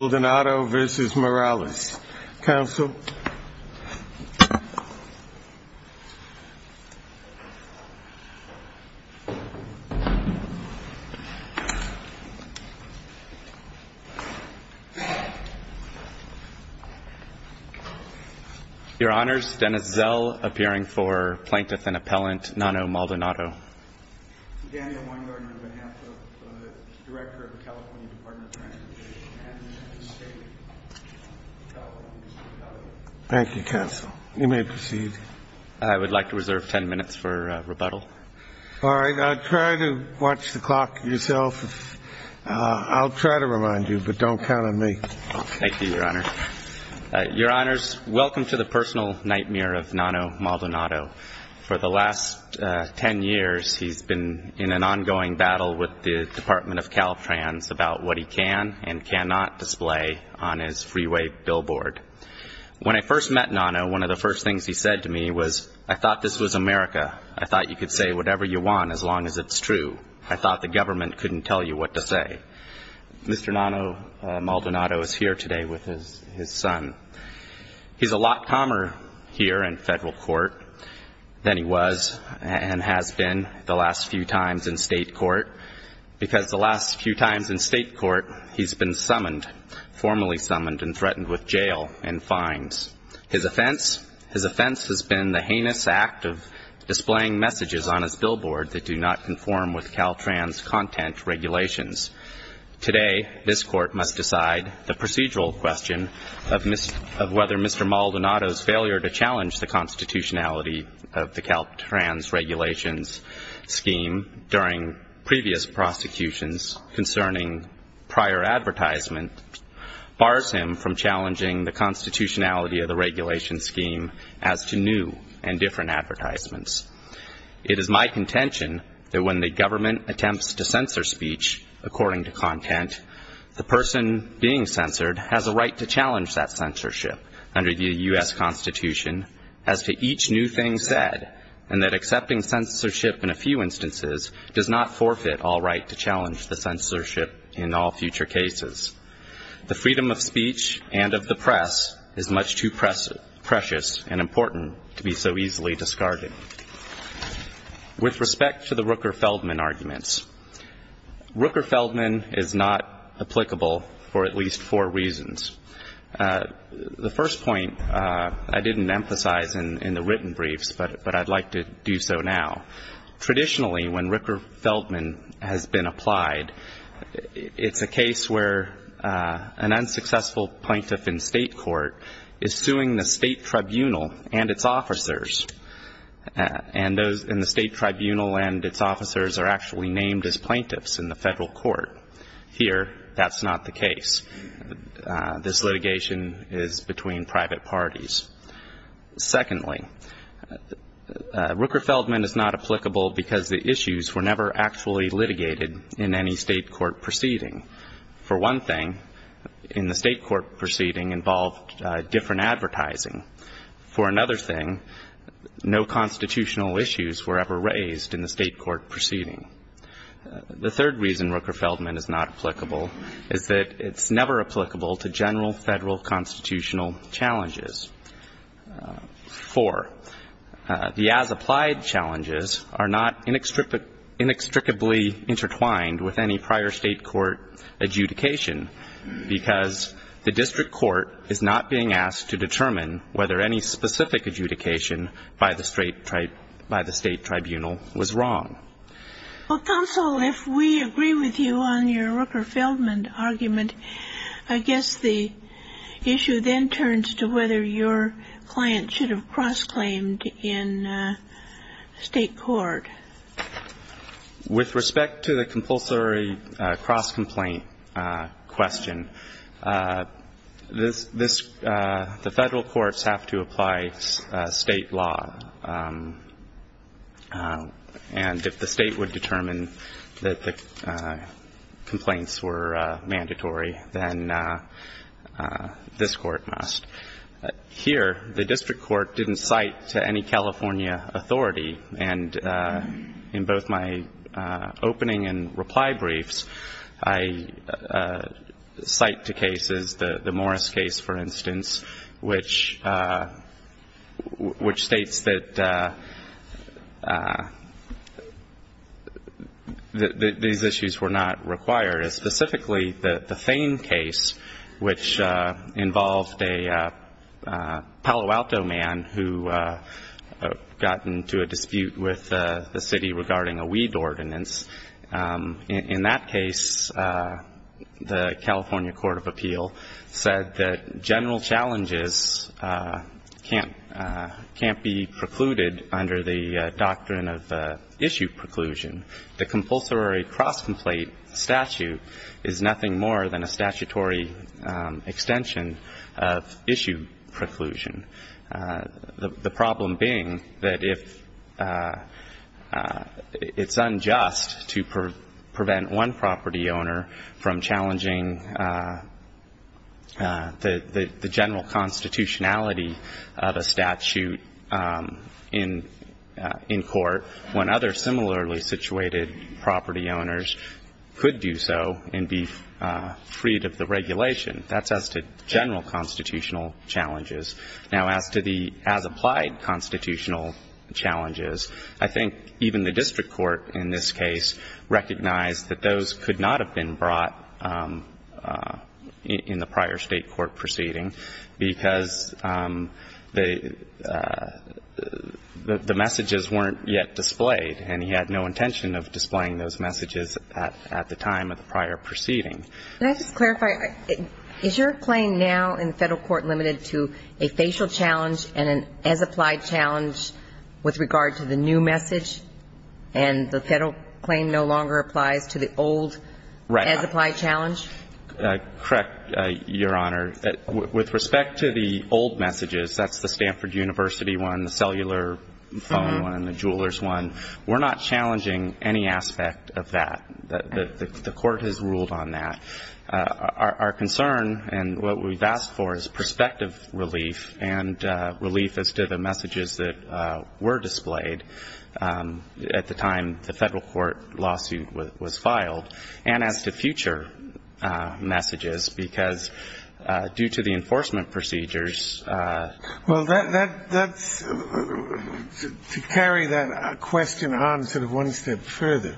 Maldonado v. Morales, Counsel. Your Honors, Dennis Zell, appearing for plaintiff and appellant, Nono Maldonado. Daniel Weingartner, on behalf of the Director of the California Department of Justice. Thank you, Counsel. You may proceed. I would like to reserve ten minutes for rebuttal. All right. Try to watch the clock yourself. I'll try to remind you, but don't count on me. Thank you, Your Honor. Your Honors, welcome to the personal nightmare of Nono Maldonado. For the last ten years, he's been in an ongoing battle with the Department of Justice, and he's been in a lot of play on his freeway billboard. When I first met Nono, one of the first things he said to me was, I thought this was America. I thought you could say whatever you want, as long as it's true. I thought the government couldn't tell you what to say. Mr. Nono Maldonado is here today with his son. He's a lot calmer here in federal court than he was and has been the last few times in state court, because the last few times in state court, he's been summoned, formally summoned and threatened with jail and fines. His offense has been the heinous act of displaying messages on his billboard that do not conform with Caltrans content regulations. Today, this court must decide the procedural question of whether Mr. Maldonado's failure to challenge the constitutionality of the Caltrans regulations scheme during previous prosecutions concerning prior advertisement bars him from challenging the constitutionality of the regulation scheme as to new and different advertisements. It is my contention that when the government attempts to censor speech according to content, the person being censored has a right to challenge that censorship under the U.S. Constitution as to each new thing said, and that accepting censorship in a few instances does not forfeit all right to challenge the censorship in all future cases. The freedom of speech and of the press is much too precious and important to be so easily discarded. With respect to the Rooker-Feldman arguments, Rooker-Feldman is not applicable for at least four reasons. The first point I didn't emphasize in the written briefs, but I'd like to do so now. Traditionally, when Rooker-Feldman has been applied, it's a case where an unsuccessful plaintiff in state court is suing the state tribunal and its officers, and the state tribunal and its officers are actually named as plaintiffs in the federal court. Here, that's not the case. This litigation is between private parties. Secondly, Rooker-Feldman is not applicable because the issues were never actually litigated in any state court proceeding. For one thing, in the state court proceeding involved different advertising. For another thing, no constitutional issues were ever raised in the state court proceeding. The third reason Rooker-Feldman is not applicable is that it's never applicable to general federal constitutional challenges. Four, the as-applied challenges are not inextricably intertwined with any prior state court adjudication, because the district court is not being asked to determine whether any specific adjudication by the state tribunal was wrong. Well, counsel, if we agree with you on your Rooker-Feldman argument, I guess the issue then turns to whether your client should have cross-claimed in state court. With respect to the compulsory cross-complaint question, this — the federal courts have to apply state law, and if the state would determine that the complaints were mandatory, then this court must. Here, the district court didn't cite to any California authority, and in both my opening and reply briefs, I cite to cases — the Morris case, for instance, which states that these issues were not required. Specifically, the Thane case, which involved a Palo Alto man who got into a dispute with the city regarding a weed ordinance. In that case, the California court of appeal said that general challenges can't be precluded under the doctrine of issue preclusion. The compulsory cross-complaint statute is nothing more than a statutory extension of issue preclusion. The problem being that if — it's unjust to prevent one property owner from challenging the general constitutionality of a statute in court, when other similarly situated property owners could do so and be freed of the regulation. That's as to general constitutional challenges. Now, as to the as-applied constitutional challenges, I think even the district court in this case recognized that those could not have been brought in the prior state court proceeding because the messages weren't yet displayed, and he had no intention of displaying those messages at the time of the prior proceeding. Can I just clarify, is your claim now in the federal court limited to a facial challenge and an as-applied challenge with regard to the new message, and the federal claim no longer applies to the old as-applied challenge? Correct, Your Honor. With respect to the old messages, that's the Stanford University one, the cellular phone one, the jeweler's one, we're not challenging any aspect of that. The court has ruled on that. Our concern and what we've asked for is perspective relief and relief as to the messages that were displayed at the time the federal court lawsuit was filed, and as to future messages, because due to the enforcement procedures — to carry that question on sort of one step further,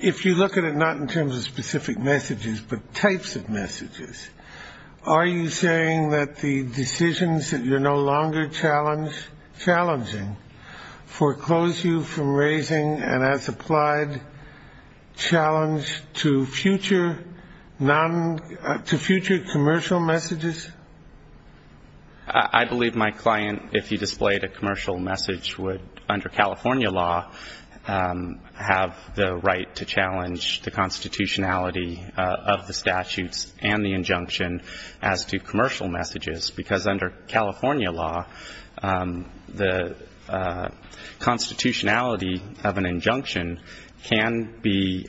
if you look at it not in terms of specific messages, but types of messages, are you saying that the decisions that you're no longer challenging foreclose you from raising an as-applied challenge to future commercial messages? I believe my client, if he displayed a commercial message, would, under California law, have the right to challenge the constitutionality of the statutes and the injunction as to commercial messages, because under California law, the constitutionality of an injunction can be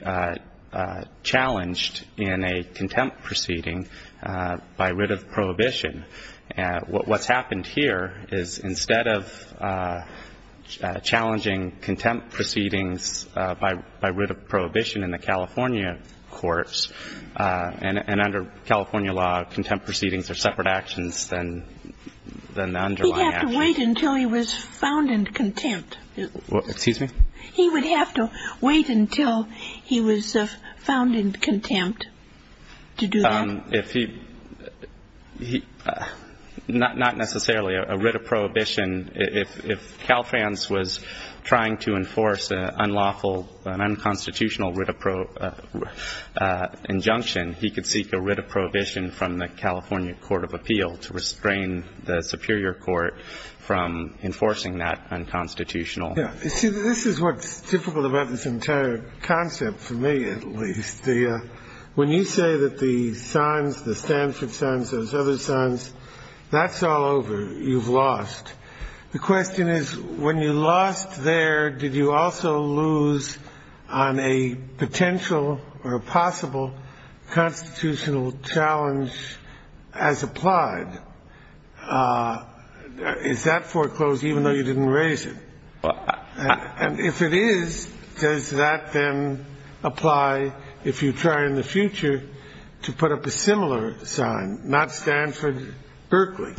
challenged in a contempt proceeding by writ of prohibition. And what's happened here is instead of challenging contempt proceedings by writ of prohibition in the California courts, and under California law, contempt proceedings are separate actions than the underlying actions. He'd have to wait until he was found in contempt. He would have to wait until he was found in contempt to do that? Not necessarily. A writ of prohibition, if Calfrance was trying to enforce an unlawful, an unconstitutional writ of injunction, he could seek a writ of prohibition from the California Court of Appeal to restrain the superior court from enforcing that unconstitutional injunction. Yeah. You see, this is what's difficult about this entire concept, for me at least. When you say that the signs, the Stanford signs, those other signs, that's all over, you've lost. The question is, when you lost there, did you also lose on a potential or a possible constitutional challenge as applied? Is that foreclosed even though you didn't raise it? And if it is, does that then apply if you try in the future to put up a similar sign, not Stanford-Berkeley?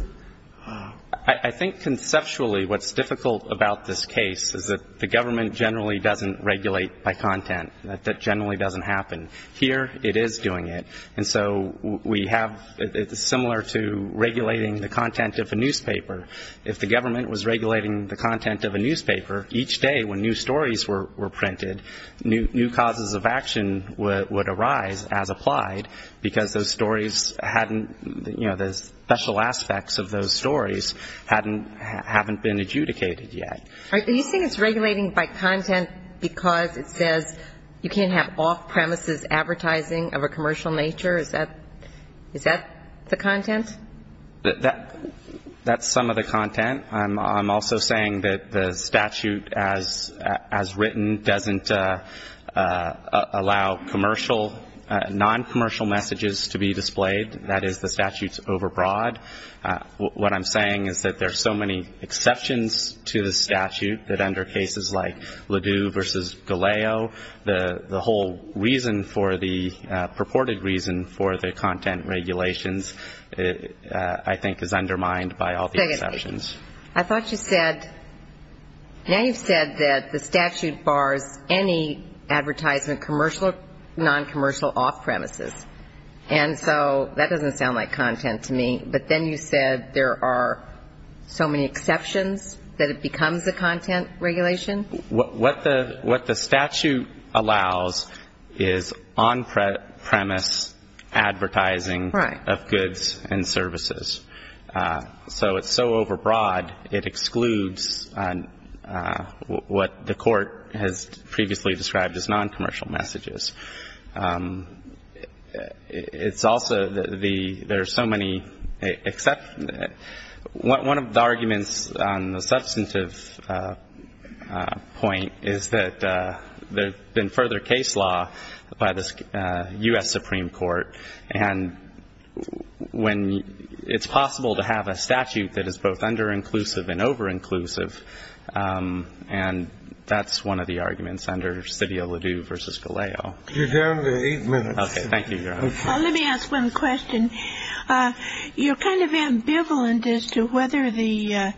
I think conceptually what's difficult about this case is that the government generally doesn't regulate by content. That generally doesn't happen. Here it is doing it. And so we have, it's similar to regulating the content of a newspaper. If the government was regulating the content of a newspaper, each day when new stories were printed, new causes of action would arise as applied, because those stories hadn't, you know, the special aspects of those stories hadn't been adjudicated yet. Are you saying it's regulating by content because it says you can't have off-premises advertising of a commercial nature? Is that the content? That's some of the content. I'm also saying that the statute as written doesn't allow commercial, non-commercial messages to be displayed. That is, the statute's overbroad. What I'm saying is that there are so many exceptions to the statute that under cases like Ledoux v. Galeo, the whole reason for the, purported reason for the content regulations, I think, is undermined by all the exceptions. I thought you said, now you've said that the statute bars any advertisement, commercial or non-commercial, off-premises. And so that doesn't sound like content to me, but there are exceptions. Then you said there are so many exceptions that it becomes a content regulation? What the statute allows is on-premise advertising of goods and services. So it's so overbroad, it excludes what the court has previously described as non-commercial messages. It's also the, there are so many exceptions. One of the arguments on the substantive point is that there's been further case law by the U.S. Supreme Court, and when it's possible to have a statute that is both under-inclusive and over-inclusive, and that's one of the arguments under Sidio Ledoux v. Galeo. You're down to eight minutes. Okay. Thank you, Your Honor. Let me ask one question. You're kind of ambivalent as to whether the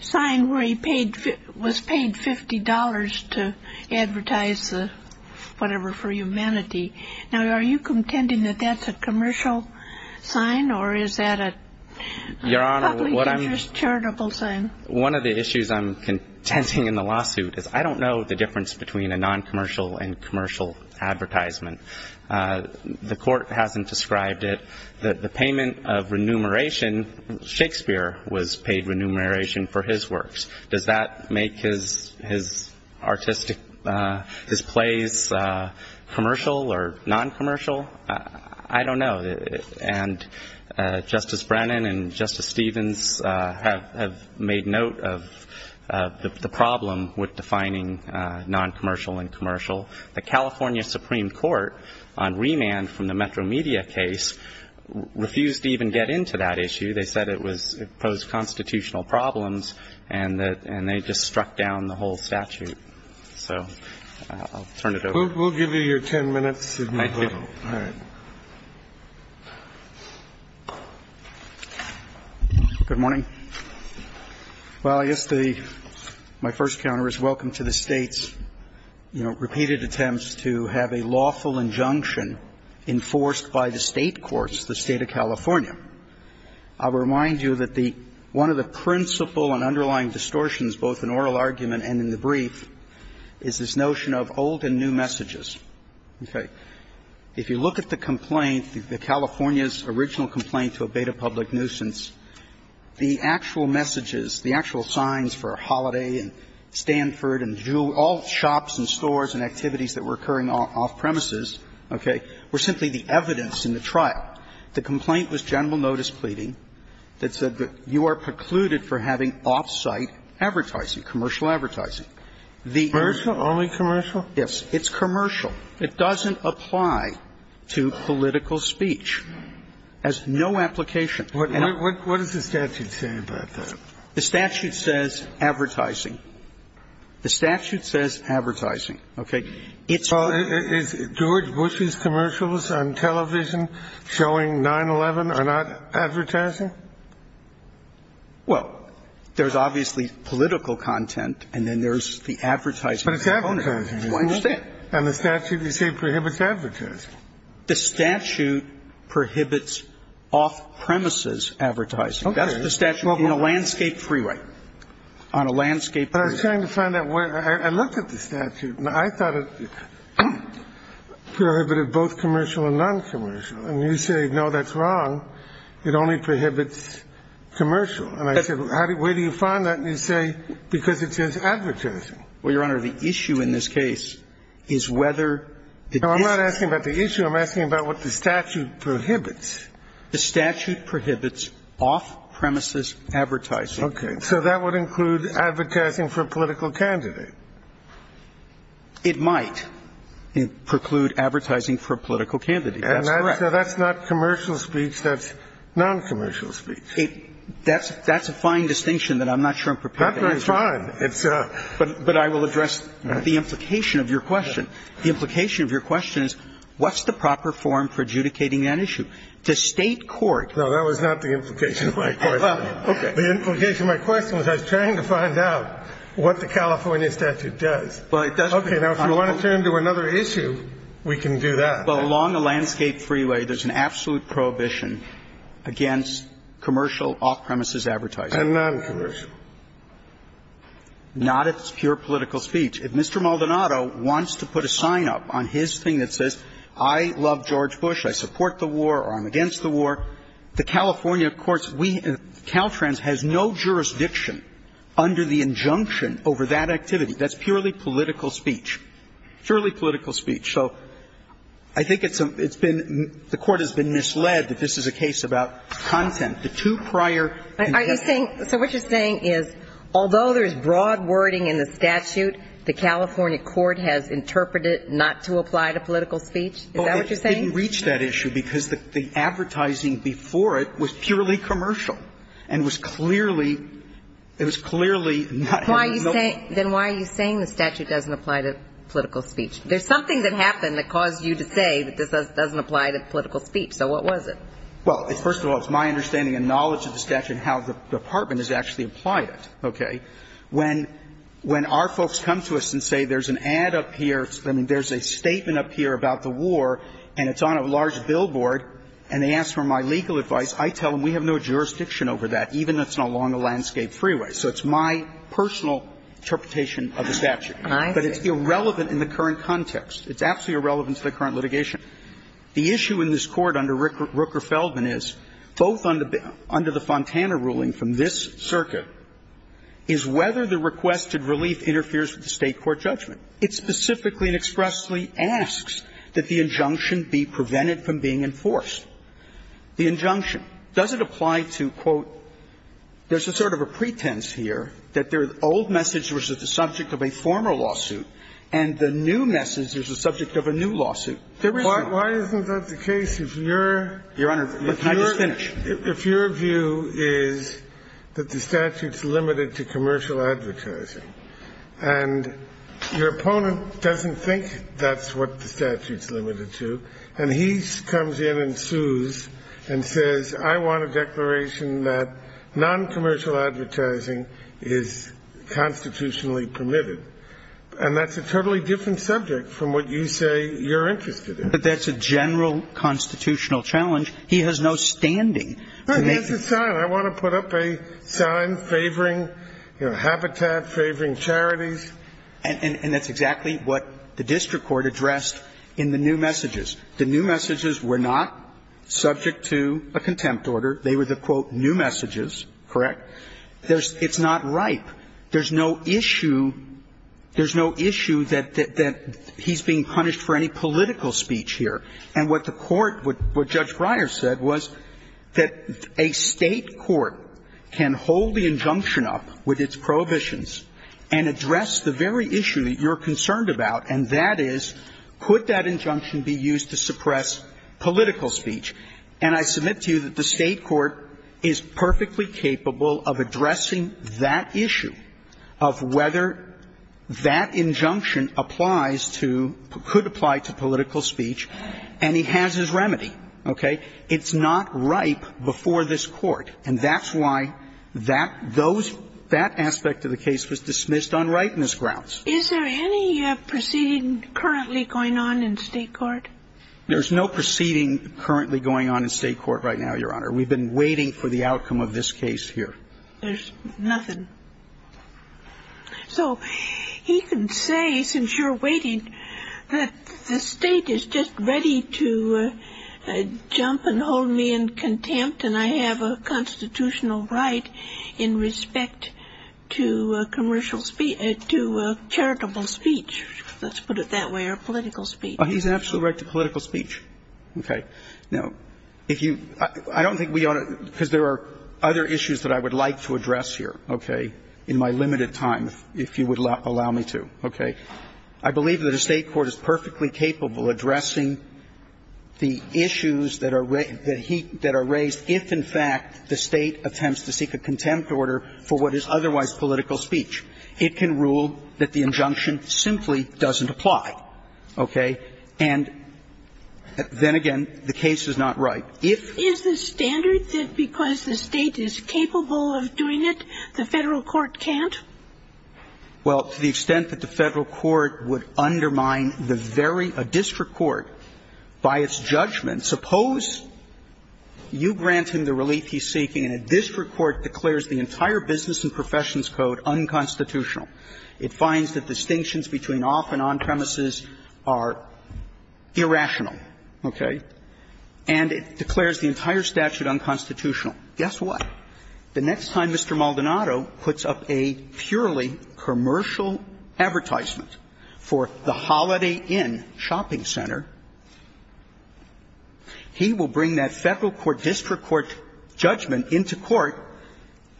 sign where he paid, was paid $50 to advertise the, whatever, for humanity. Now, are you contending that that's a commercial sign, or is that a public interest charitable sign? One of the issues I'm contending in the lawsuit is I don't know the difference between a non-commercial and commercial advertisement. The court hasn't described it. The payment of remuneration, Shakespeare was paid remuneration for his works. Does that make his artistic, his plays commercial or non-commercial? I don't know. And Justice Brennan and Justice Stevens have made note of the problem with defining non-commercial and commercial. The California Supreme Court, on remand from the Metro Media case, refused to even get into that issue. They said it posed constitutional problems, and they just struck down the whole statute. So I'll turn it over. We'll give you your ten minutes. Thank you. All right. Good morning. Well, I guess the my first counter is welcome to the State's, you know, repeated attempts to have a lawful injunction enforced by the State courts, the State of California. I'll remind you that the one of the principal and underlying distortions, both in oral If you look at the complaint, the California's original complaint to abate a public nuisance, the actual messages, the actual signs for a holiday and Stanford and all shops and stores and activities that were occurring off-premises, okay, were simply the evidence in the trial. The complaint was general notice pleading that said that you are precluded for having off-site advertising, commercial advertising. Commercial? Only commercial? Yes. It's commercial. It doesn't apply to political speech. It has no application. What does the statute say about that? The statute says advertising. The statute says advertising. Okay. Is George Bush's commercials on television showing 9-11 are not advertising? Well, there's obviously political content, and then there's the advertising. But it's advertising. I understand. And the statute, you say, prohibits advertising. The statute prohibits off-premises advertising. Okay. That's the statute in a landscape freeway, on a landscape freeway. But I was trying to find out where. I looked at the statute, and I thought it prohibited both commercial and non-commercial. And you say, no, that's wrong. It only prohibits commercial. And I said, where do you find that? And you say, because it says advertising. Well, Your Honor, the issue in this case is whether it is. No, I'm not asking about the issue. I'm asking about what the statute prohibits. The statute prohibits off-premises advertising. So that would include advertising for a political candidate. It might preclude advertising for a political candidate. That's correct. And that's not commercial speech. That's non-commercial speech. That's a fine distinction that I'm not sure I'm prepared to answer. That's fine. But I will address the implication of your question. The implication of your question is, what's the proper form for adjudicating that issue? The State court. No, that was not the implication of my question. Okay. The implication of my question was I was trying to find out what the California statute does. Okay. Now, if you want to turn to another issue, we can do that. Well, along the landscape freeway, there's an absolute prohibition against commercial off-premises advertising. And non-commercial. Not if it's pure political speech. If Mr. Maldonado wants to put a sign up on his thing that says, I love George Bush, I support the war, or I'm against the war, the California courts, we, Caltrans, has no jurisdiction under the injunction over that activity. That's purely political speech. Purely political speech. So I think it's been, the court has been misled that this is a case about content. The two prior. Are you saying, so what you're saying is, although there's broad wording in the statute, the California court has interpreted not to apply to political speech? Is that what you're saying? I didn't reach that issue because the advertising before it was purely commercial and was clearly, it was clearly not having no. Then why are you saying the statute doesn't apply to political speech? There's something that happened that caused you to say that this doesn't apply to political speech. So what was it? Well, first of all, it's my understanding and knowledge of the statute and how the Department has actually applied it. Okay. When our folks come to us and say there's an ad up here, I mean, there's a statement up here about the war, and it's on a large billboard, and they ask for my legal advice, I tell them we have no jurisdiction over that, even if it's along a landscape freeway. So it's my personal interpretation of the statute. All right. But it's irrelevant in the current context. It's absolutely irrelevant to the current litigation. The issue in this Court under Rooker Feldman is, both under the Fontana ruling from this circuit, is whether the requested relief interferes with the State court judgment. It specifically and expressly asks that the injunction be prevented from being enforced. The injunction. Does it apply to, quote, there's a sort of a pretense here that the old message was that the subject of a former lawsuit, and the new message is the subject of a new lawsuit? Why isn't that the case if you're? Your Honor, can I just finish? If your view is that the statute's limited to commercial advertising, and you're opponent doesn't think that's what the statute's limited to, and he comes in and sues and says, I want a declaration that noncommercial advertising is constitutionally permitted, and that's a totally different subject from what you say you're interested in. But that's a general constitutional challenge. He has no standing to make it. Well, he has a sign. I want to put up a sign favoring, you know, Habitat, favoring charities. And that's exactly what the district court addressed in the new messages. The new messages were not subject to a contempt order. They were the, quote, new messages, correct? It's not ripe. There's no issue. There's no issue that he's being punished for any political speech here. And what the court, what Judge Breyer said was that a State court can hold the injunction up with its prohibitions and address the very issue that you're concerned about, and that is, could that injunction be used to suppress political speech? And I submit to you that the State court is perfectly capable of addressing that issue of whether that injunction applies to or could apply to political speech, and he has his remedy, okay? It's not ripe before this Court. And that's why that aspect of the case was dismissed on ripeness grounds. Is there any proceeding currently going on in State court? There's no proceeding currently going on in State court right now, Your Honor. We've been waiting for the outcome of this case here. There's nothing. So he can say, since you're waiting, that the State is just ready to jump and hold me in contempt and I have a constitutional right in respect to commercial speech, to charitable speech. Let's put it that way, or political speech. Oh, he's absolutely right to political speech. Okay. Now, if you – I don't think we ought to – because there are other issues that I would like to address here, okay, in my limited time, if you would allow me to, okay? I believe that a State court is perfectly capable of addressing the issues that are raised if, in fact, the State attempts to seek a contempt order for what is otherwise political speech. It can rule that the injunction simply doesn't apply, okay? And then again, the case is not ripe. Now, if – Is the standard that because the State is capable of doing it, the Federal court can't? Well, to the extent that the Federal court would undermine the very – a district court by its judgment, suppose you grant him the relief he's seeking and a district court declares the entire business and professions code unconstitutional. It finds that distinctions between off and on premises are irrational, okay? And it declares the entire statute unconstitutional. Guess what? The next time Mr. Maldonado puts up a purely commercial advertisement for the Holiday Inn shopping center, he will bring that Federal court, district court judgment into court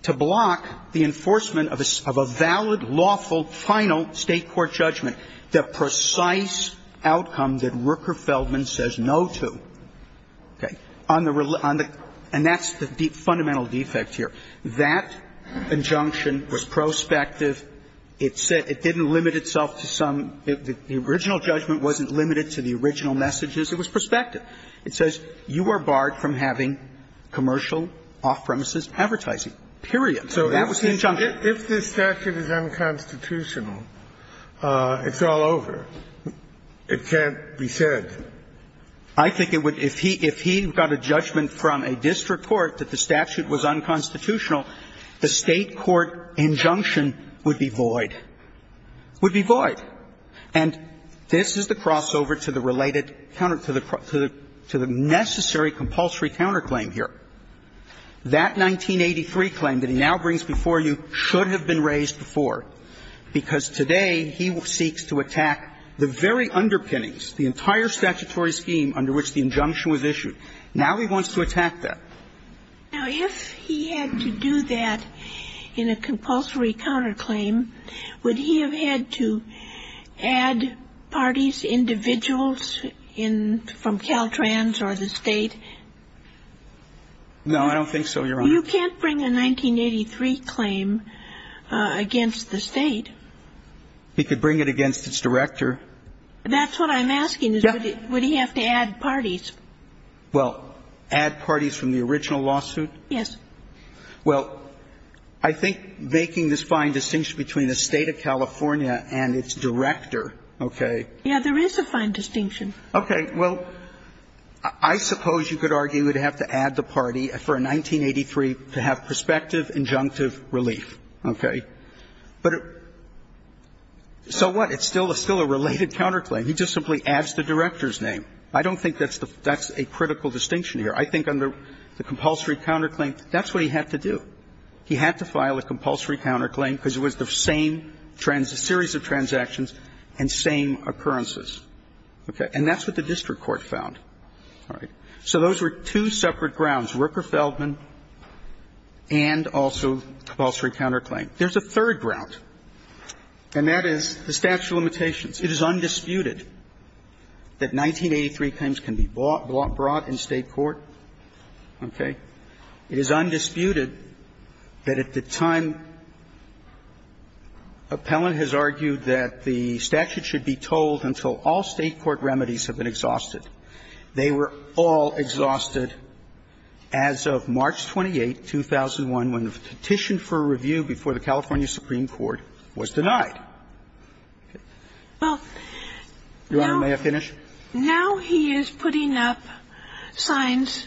to block the enforcement of a valid, lawful, final State court judgment, the precise outcome that Rooker-Feldman says no to, okay? On the – and that's the fundamental defect here. That injunction was prospective. It said – it didn't limit itself to some – the original judgment wasn't limited to the original messages. It was prospective. It says you are barred from having commercial off-premises advertising, period. So that was the injunction. If this statute is unconstitutional, it's all over. It can't be said. I think it would – if he – if he got a judgment from a district court that the statute was unconstitutional, the State court injunction would be void. Would be void. And this is the crossover to the related counter – to the necessary compulsory counterclaim here. That 1983 claim that he now brings before you should have been raised before, because today he seeks to attack the very underpinnings, the entire statutory scheme under which the injunction was issued. Now he wants to attack that. Now, if he had to do that in a compulsory counterclaim, would he have had to add parties, individuals in – from Caltrans or the State? No, I don't think so, Your Honor. You can't bring a 1983 claim against the State. He could bring it against its director. That's what I'm asking is would he have to add parties? Well, add parties from the original lawsuit? Yes. Well, I think making this fine distinction between the State of California and its director, okay. Yeah, there is a fine distinction. Okay. Well, I suppose you could argue he would have to add the party for a 1983 to have prospective injunctive relief, okay. But so what? It's still a related counterclaim. He just simply adds the director's name. I don't think that's a critical distinction here. I think under the compulsory counterclaim, that's what he had to do. He had to file a compulsory counterclaim because it was the same series of transactions and same occurrences, okay. And that's what the district court found. All right. So those were two separate grounds, Rooker-Feldman and also compulsory counterclaim. There's a third ground, and that is the statute of limitations. It is undisputed that 1983 claims can be brought in State court, okay. It is undisputed that at the time appellant has argued that the statute should be told until all State court remedies have been exhausted. They were all exhausted as of March 28, 2001, when the petition for review before the California Supreme Court was denied. Your Honor, may I finish? Now he is putting up signs,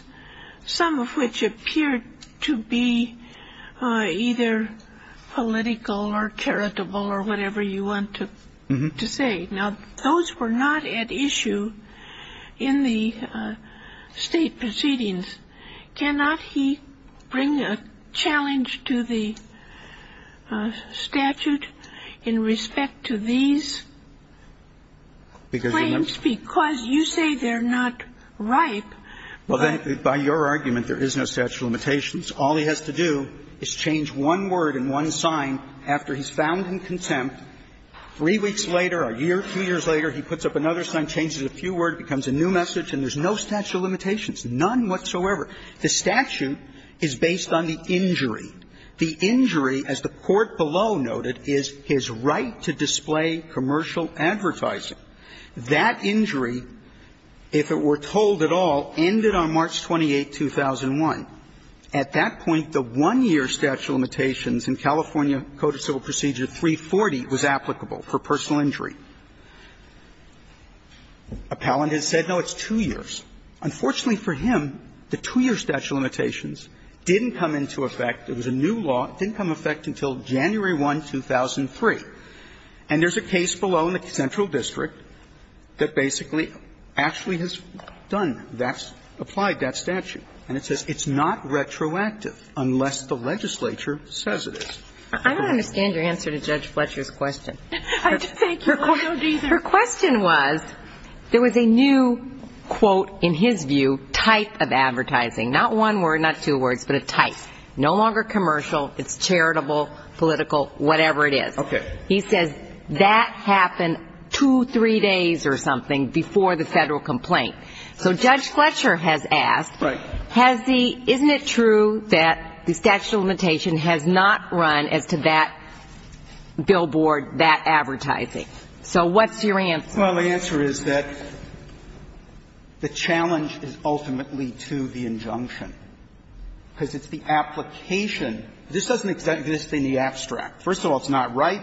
some of which appear to be either political or charitable or whatever you want to say. Now, those were not at issue in the State proceedings. Can he bring a challenge to the statute in respect to these claims? Because you say they're not ripe. Well, by your argument, there is no statute of limitations. All he has to do is change one word and one sign after he's found in contempt. Three weeks later, a year, two years later, he puts up another sign, changes a few words, becomes a new message, and there's no statute of limitations, none whatsoever. The statute is based on the injury. The injury, as the court below noted, is his right to display commercial advertising. That injury, if it were told at all, ended on March 28, 2001. At that point, the one-year statute of limitations in California Code of Civil Procedure 340 was applicable for personal injury. Appellant has said, no, it's two years. Unfortunately for him, the two-year statute of limitations didn't come into effect as a new law. It didn't come into effect until January 1, 2003. And there's a case below in the central district that basically actually has done that, applied that statute. And it says it's not retroactive unless the legislature says it is. I don't understand your answer to Judge Fletcher's question. Your question was, there was a new, quote, in his view, type of advertising. Not one word, not two words, but a type. No longer commercial. It's charitable, political, whatever it is. He says that happened two, three days or something before the federal complaint. So Judge Fletcher has asked, isn't it true that the statute of limitations has not run as to that billboard, that advertising? So what's your answer? Well, my answer is that the challenge is ultimately to the injunction, because it's the application. This doesn't exist in the abstract. First of all, it's not right.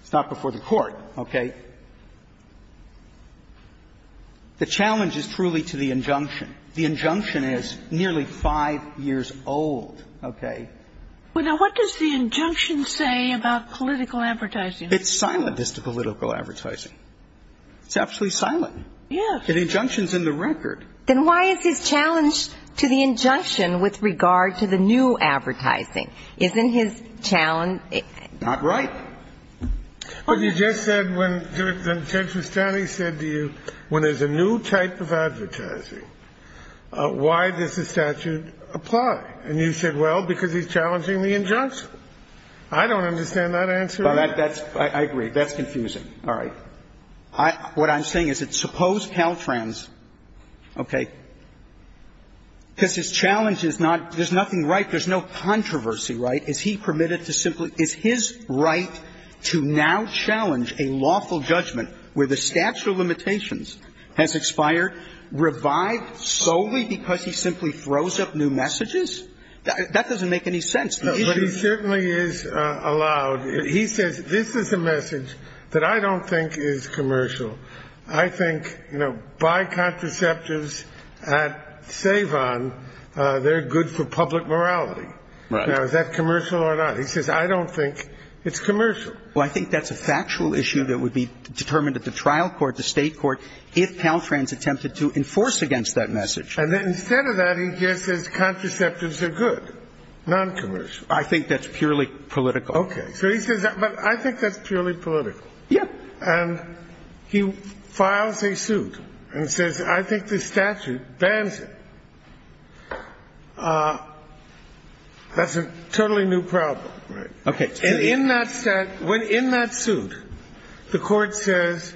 It's not before the Court, okay? The challenge is truly to the injunction. The injunction is nearly five years old, okay? Well, now, what does the injunction say about political advertising? It's silent as to political advertising. It's absolutely silent. Yes. The injunction's in the record. Then why is his challenge to the injunction with regard to the new advertising? Isn't his challenge... Not right. Well, you just said when Judge Fristani said to you, when there's a new type of advertising, why does the statute apply? And you said, well, because he's challenging the injunction. I don't understand that answer. I agree. That's confusing. All right. What I'm saying is that suppose Caltrans, okay, because his challenge is not – there's nothing right. There's no controversy, right? Is he permitted to simply – is his right to now challenge a lawful judgment where the statute of limitations has expired, revived solely because he simply throws up new messages? That doesn't make any sense. No, but he certainly is allowed. He says, this is a message that I don't think is commercial. I think, you know, buy contraceptives at Savon. They're good for public morality. Right. Now, is that commercial or not? He says, I don't think it's commercial. Well, I think that's a factual issue that would be determined at the trial court, the state court, if Caltrans attempted to enforce against that message. And instead of that, he just says contraceptives are good, non-commercial. I think that's purely political. Okay. So he says, but I think that's purely political. Yeah. And he files a suit and says, I think this statute bans it. That's a totally new problem. Right. Okay. And in that – when in that suit, the court says,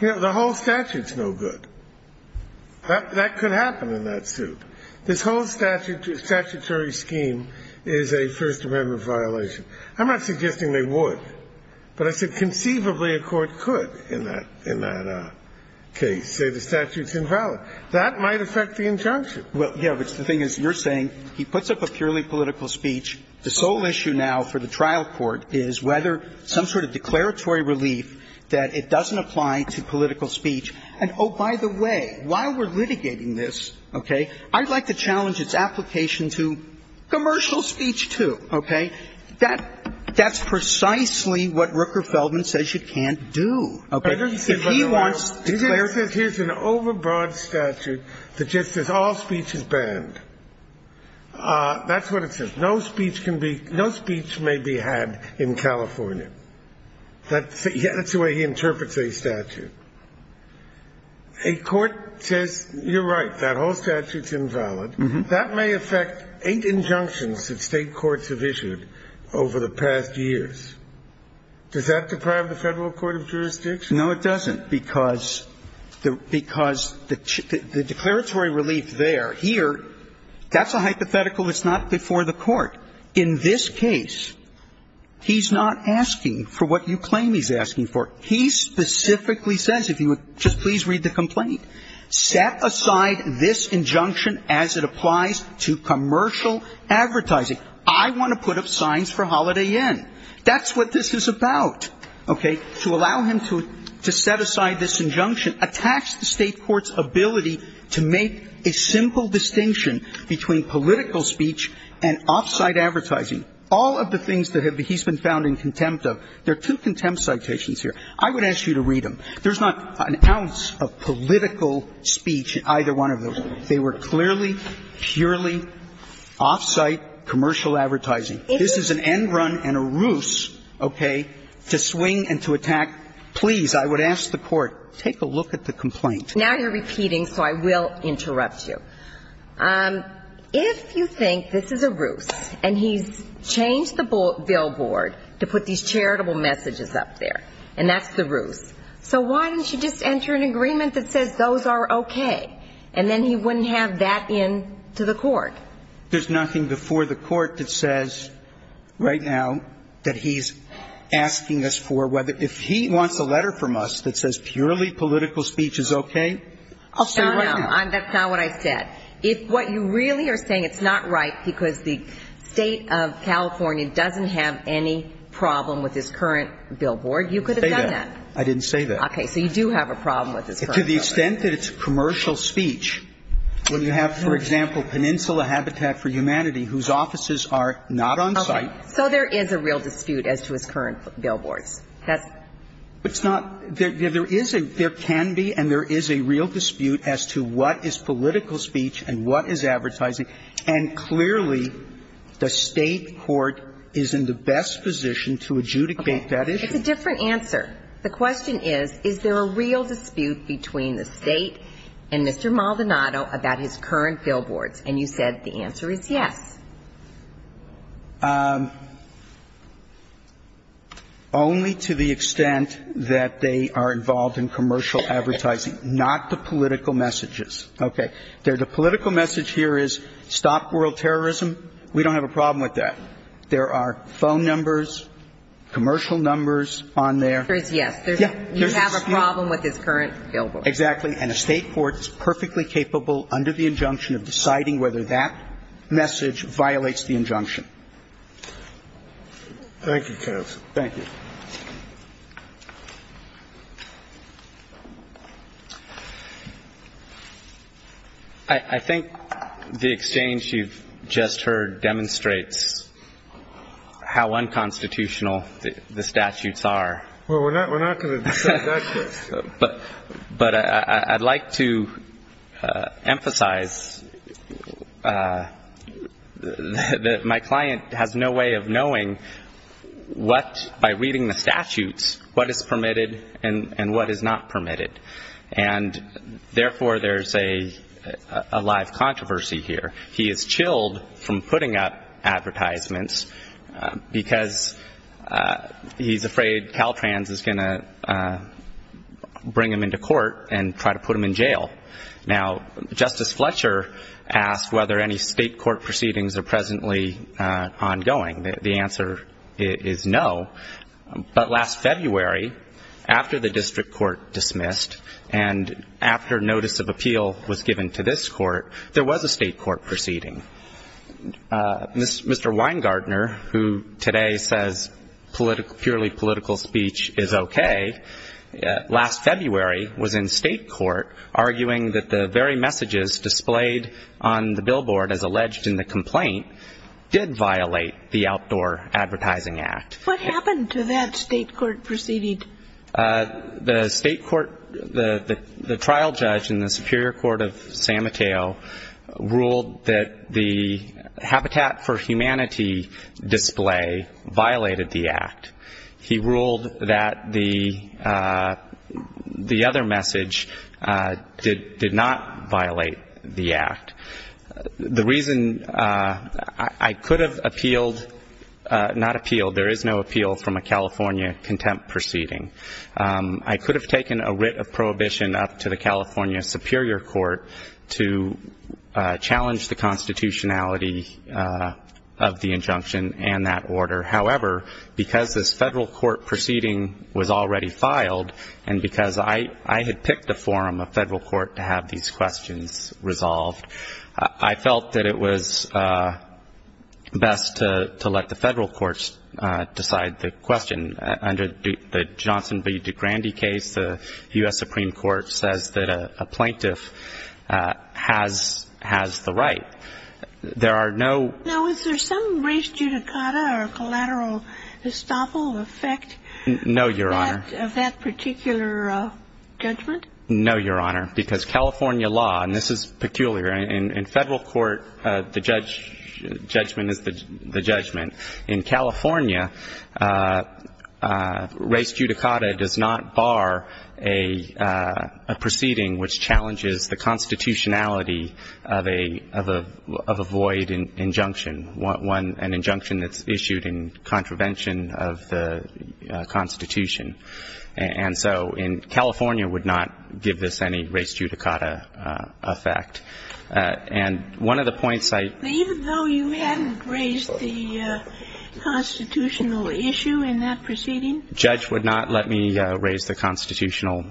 you know, the whole statute's no good. That could happen in that suit. This whole statutory scheme is a First Amendment violation. I'm not suggesting they would, but I said conceivably a court could in that case say the statute's invalid. That might affect the injunction. Well, yeah, but the thing is, you're saying he puts up a purely political speech. The sole issue now for the trial court is whether some sort of declaratory relief that it doesn't apply to political speech. And, oh, by the way, while we're litigating this, okay, I'd like to challenge its application to commercial speech, too. Okay. That's precisely what Rooker Feldman says you can't do. Okay. If he wants to declare – He says here's an overbroad statute that just says all speech is banned. That's what it says. No speech can be – no speech may be had in California. That's the way he interprets a statute. A court says, you're right, that whole statute's invalid. That may affect eight injunctions that State courts have issued over the past years. Does that deprive the Federal Court of jurisdiction? No, it doesn't, because the declaratory relief there, here, that's a hypothetical that's not before the court. In this case, he's not asking for what you claim he's asking for. He specifically says, if you would just please read the complaint, set aside this injunction as it applies to commercial advertising. I want to put up signs for Holiday Inn. That's what this is about. Okay. To allow him to set aside this injunction attacks the State court's ability to make a simple distinction between political speech and off-site advertising, all of the things that he's been found in contempt of. There are two contempt citations here. I would ask you to read them. There's not an ounce of political speech in either one of those. They were clearly, purely off-site commercial advertising. This is an end run and a ruse, okay, to swing and to attack. Please, I would ask the court, take a look at the complaint. Now you're repeating, so I will interrupt you. If you think this is a ruse, and he's changed the billboard to put these charitable messages up there, and that's the ruse, so why didn't you just enter an agreement that says those are okay, and then he wouldn't have that in to the court? There's nothing before the court that says right now that he's asking us for whether if he wants a letter from us that says purely political speech is okay. I'll say right now. No, no, that's not what I said. If what you really are saying, it's not right because the State of California doesn't have any problem with his current billboard, you could have done that. I didn't say that. Okay, so you do have a problem with his current billboard. To the extent that it's commercial speech, when you have, for example, Peninsula Habitat for Humanity, whose offices are not on-site. Okay, so there is a real dispute as to his current billboards. It's not – there is a – there can be and there is a real dispute as to what is political speech and what is advertising, and clearly, the State court is in the best position to adjudicate that issue. It's a different answer. The question is, is there a real dispute between the State and Mr. Maldonado about his current billboards? And you said the answer is yes. Only to the extent that they are involved in commercial advertising, not the political messages. Okay. The political message here is stop world terrorism. We don't have a problem with that. There are phone numbers, commercial numbers on there. There is yes. You have a problem with his current billboard. Exactly. And a State court is perfectly capable under the injunction of deciding whether that message violates the injunction. Thank you, counsel. Thank you. I think the exchange you've just heard demonstrates how unconstitutional the statutes are. Well, we're not going to discuss that case. But I'd like to emphasize that my client has no way of knowing what, by reading the statutes, what is permitted and what is not permitted. And therefore, there's a live controversy here. He is chilled from putting up advertisements because he's afraid Caltrans is going to bring him into court and try to put him in jail. Now, Justice Fletcher asked whether any State court proceedings are presently ongoing. The answer is no. But last February, after the district court dismissed and after notice of appeal was given to this court, there was a State court proceeding. Mr. Weingartner, who today says purely political speech is okay, last February was in State court arguing that the very messages displayed on the billboard, as alleged in the complaint, did violate the Outdoor Advertising Act. What happened to that State court proceeding? The State court, the trial judge in the Superior Court of San Mateo, ruled that the Habitat for Humanity display violated the Act. He ruled that the other message did not violate the Act. The reason I could have appealed, not appealed, there is no appeal from a California contempt proceeding. I could have taken a writ of prohibition up to the California Superior Court to challenge the constitutionality of the injunction and that order. However, because this Federal court proceeding was already filed and because I had picked a forum, a Federal court, to have these questions resolved, I felt that it was best to let the Federal courts decide the question. Under the Johnson v. DeGrande case, the U.S. Supreme Court says that a plaintiff has the right. There are no. Now, is there some res judicata or collateral estoppel effect? No, Your Honor. Of that particular judgment? No, Your Honor, because California law, and this is peculiar, in Federal court the judgment is the judgment. In California, res judicata does not bar a proceeding which challenges the constitutionality of a void injunction, an injunction that's issued in contravention of the Constitution. And so California would not give this any res judicata effect. And one of the points I ---- Even though you hadn't raised the constitutional issue in that proceeding? Judge would not let me raise the constitutional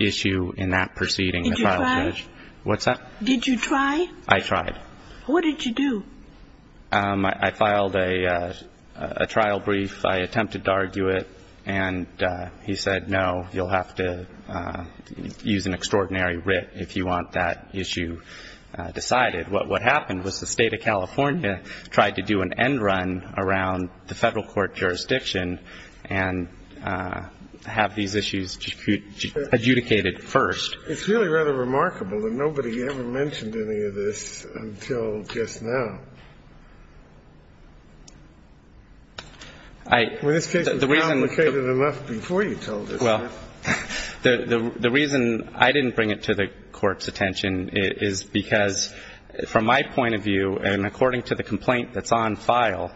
issue in that proceeding. Did you try? What's that? Did you try? I tried. What did you do? I filed a trial brief. I attempted to argue it, and he said, no, you'll have to use an extraordinary writ if you want that issue decided. What happened was the State of California tried to do an end run around the Federal court jurisdiction and have these issues adjudicated first. It's really rather remarkable that nobody ever mentioned any of this until just now. I ---- Well, this case was complicated enough before you told us that. The reason I didn't bring it to the court's attention is because, from my point of view, and according to the complaint that's on file,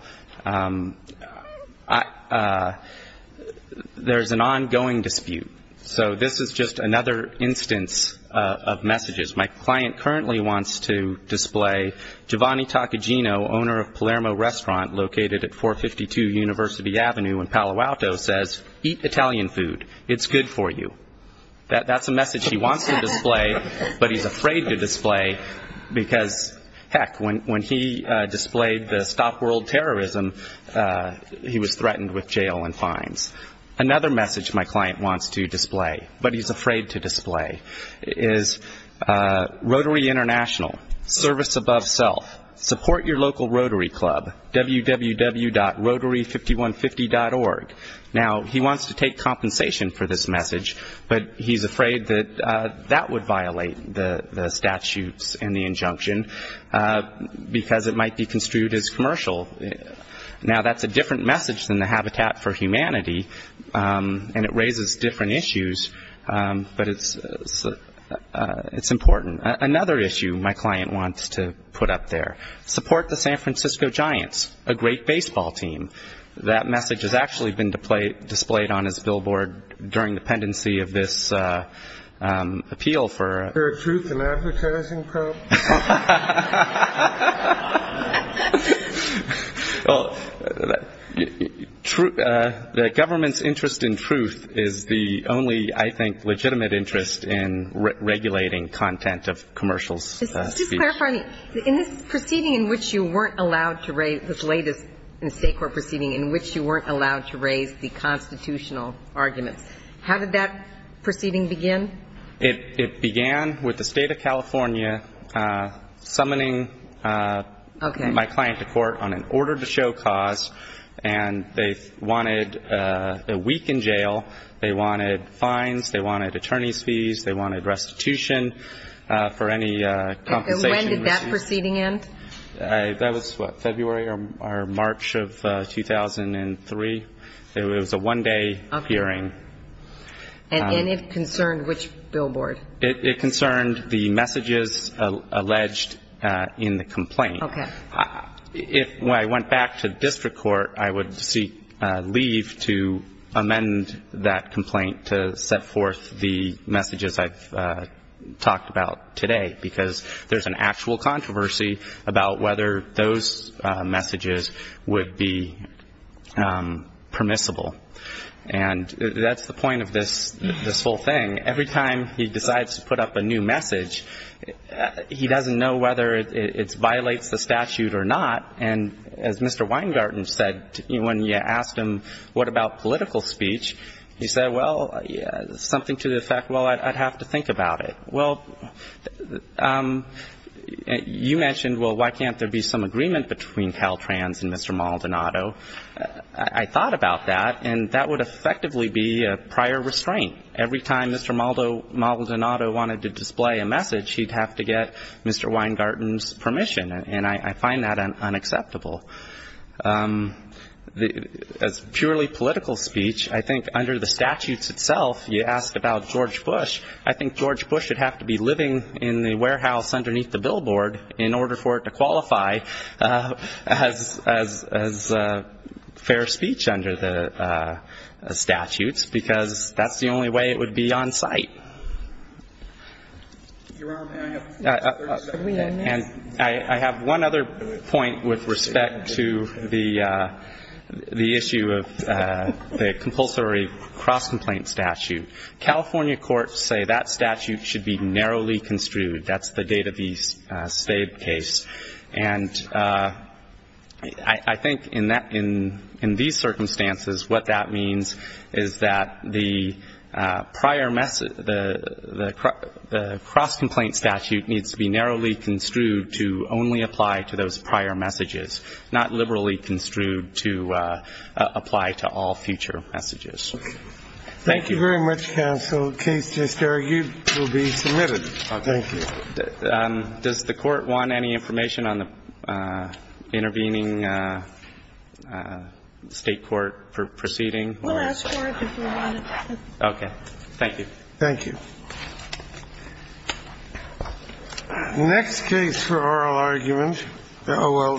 there's an ongoing dispute. So this is just another instance of messages. My client currently wants to display Giovanni Taccogino, owner of Palermo Restaurant located at 452 University Avenue in Palo Alto, says, eat Italian food. It's good for you. That's a message he wants to display, but he's afraid to display because, heck, when he displayed the stop world terrorism, he was threatened with jail and fines. Another message my client wants to display, but he's afraid to display, is Rotary International, service above self. Support your local rotary club, www.rotary5150.org. Now, he wants to take compensation for this message, but he's afraid that that would violate the statutes and the injunction because it might be construed as commercial. Now, that's a different message than the Habitat for Humanity, and it raises different issues, but it's important. Another issue my client wants to put up there, support the San Francisco Giants, a great baseball team. That message has actually been displayed on his billboard during the pendency of this appeal for ---- Is there a truth in advertising, Carl? The government's interest in truth is the only, I think, legitimate interest in regulating content of commercials. In this proceeding in which you weren't allowed to raise, this latest in a state court proceeding in which you weren't allowed to raise the constitutional arguments, how did that proceeding begin? It began with the State of California summoning my client to court on an order to show cause, and they wanted a week in jail. They wanted fines. They wanted attorney's fees. They wanted restitution for any compensation received. And when did that proceeding end? That was, what, February or March of 2003. It was a one-day hearing. And it concerned which billboard? It concerned the messages alleged in the complaint. Okay. When I went back to district court, I would seek leave to amend that complaint to set forth the messages I've talked about today, because there's an actual controversy about whether those messages would be permissible. And that's the point of this whole thing. Every time he decides to put up a new message, he doesn't know whether it violates the statute or not. And as Mr. Weingarten said, when you asked him what about political speech, he said, well, something to the effect, well, I'd have to think about it. Well, you mentioned, well, why can't there be some agreement between Caltrans and Mr. Maldonado. I thought about that, and that would effectively be a prior restraint. Every time Mr. Maldonado wanted to display a message, he'd have to get Mr. Weingarten's permission. And I find that unacceptable. As purely political speech, I think under the statutes itself, you ask about George Bush, I think George Bush would have to be living in the warehouse underneath the billboard in order for it to qualify as fair speech under the statutes, because that's the only way it would be on site. And I have one other point with respect to the issue of the compulsory cross-complaint statute. California courts say that statute should be narrowly construed. That's the database state case. And I think in these circumstances, what that means is that the prior message, the cross-complaint statute needs to be narrowly construed to only apply to those prior messages, not liberally construed to apply to all future messages. Thank you. Thank you very much, counsel. Case just argued will be submitted. Thank you. Does the Court want any information on the intervening State court proceeding? We'll ask for it if we want it. Okay. Thank you. Thank you. Next case for oral argument.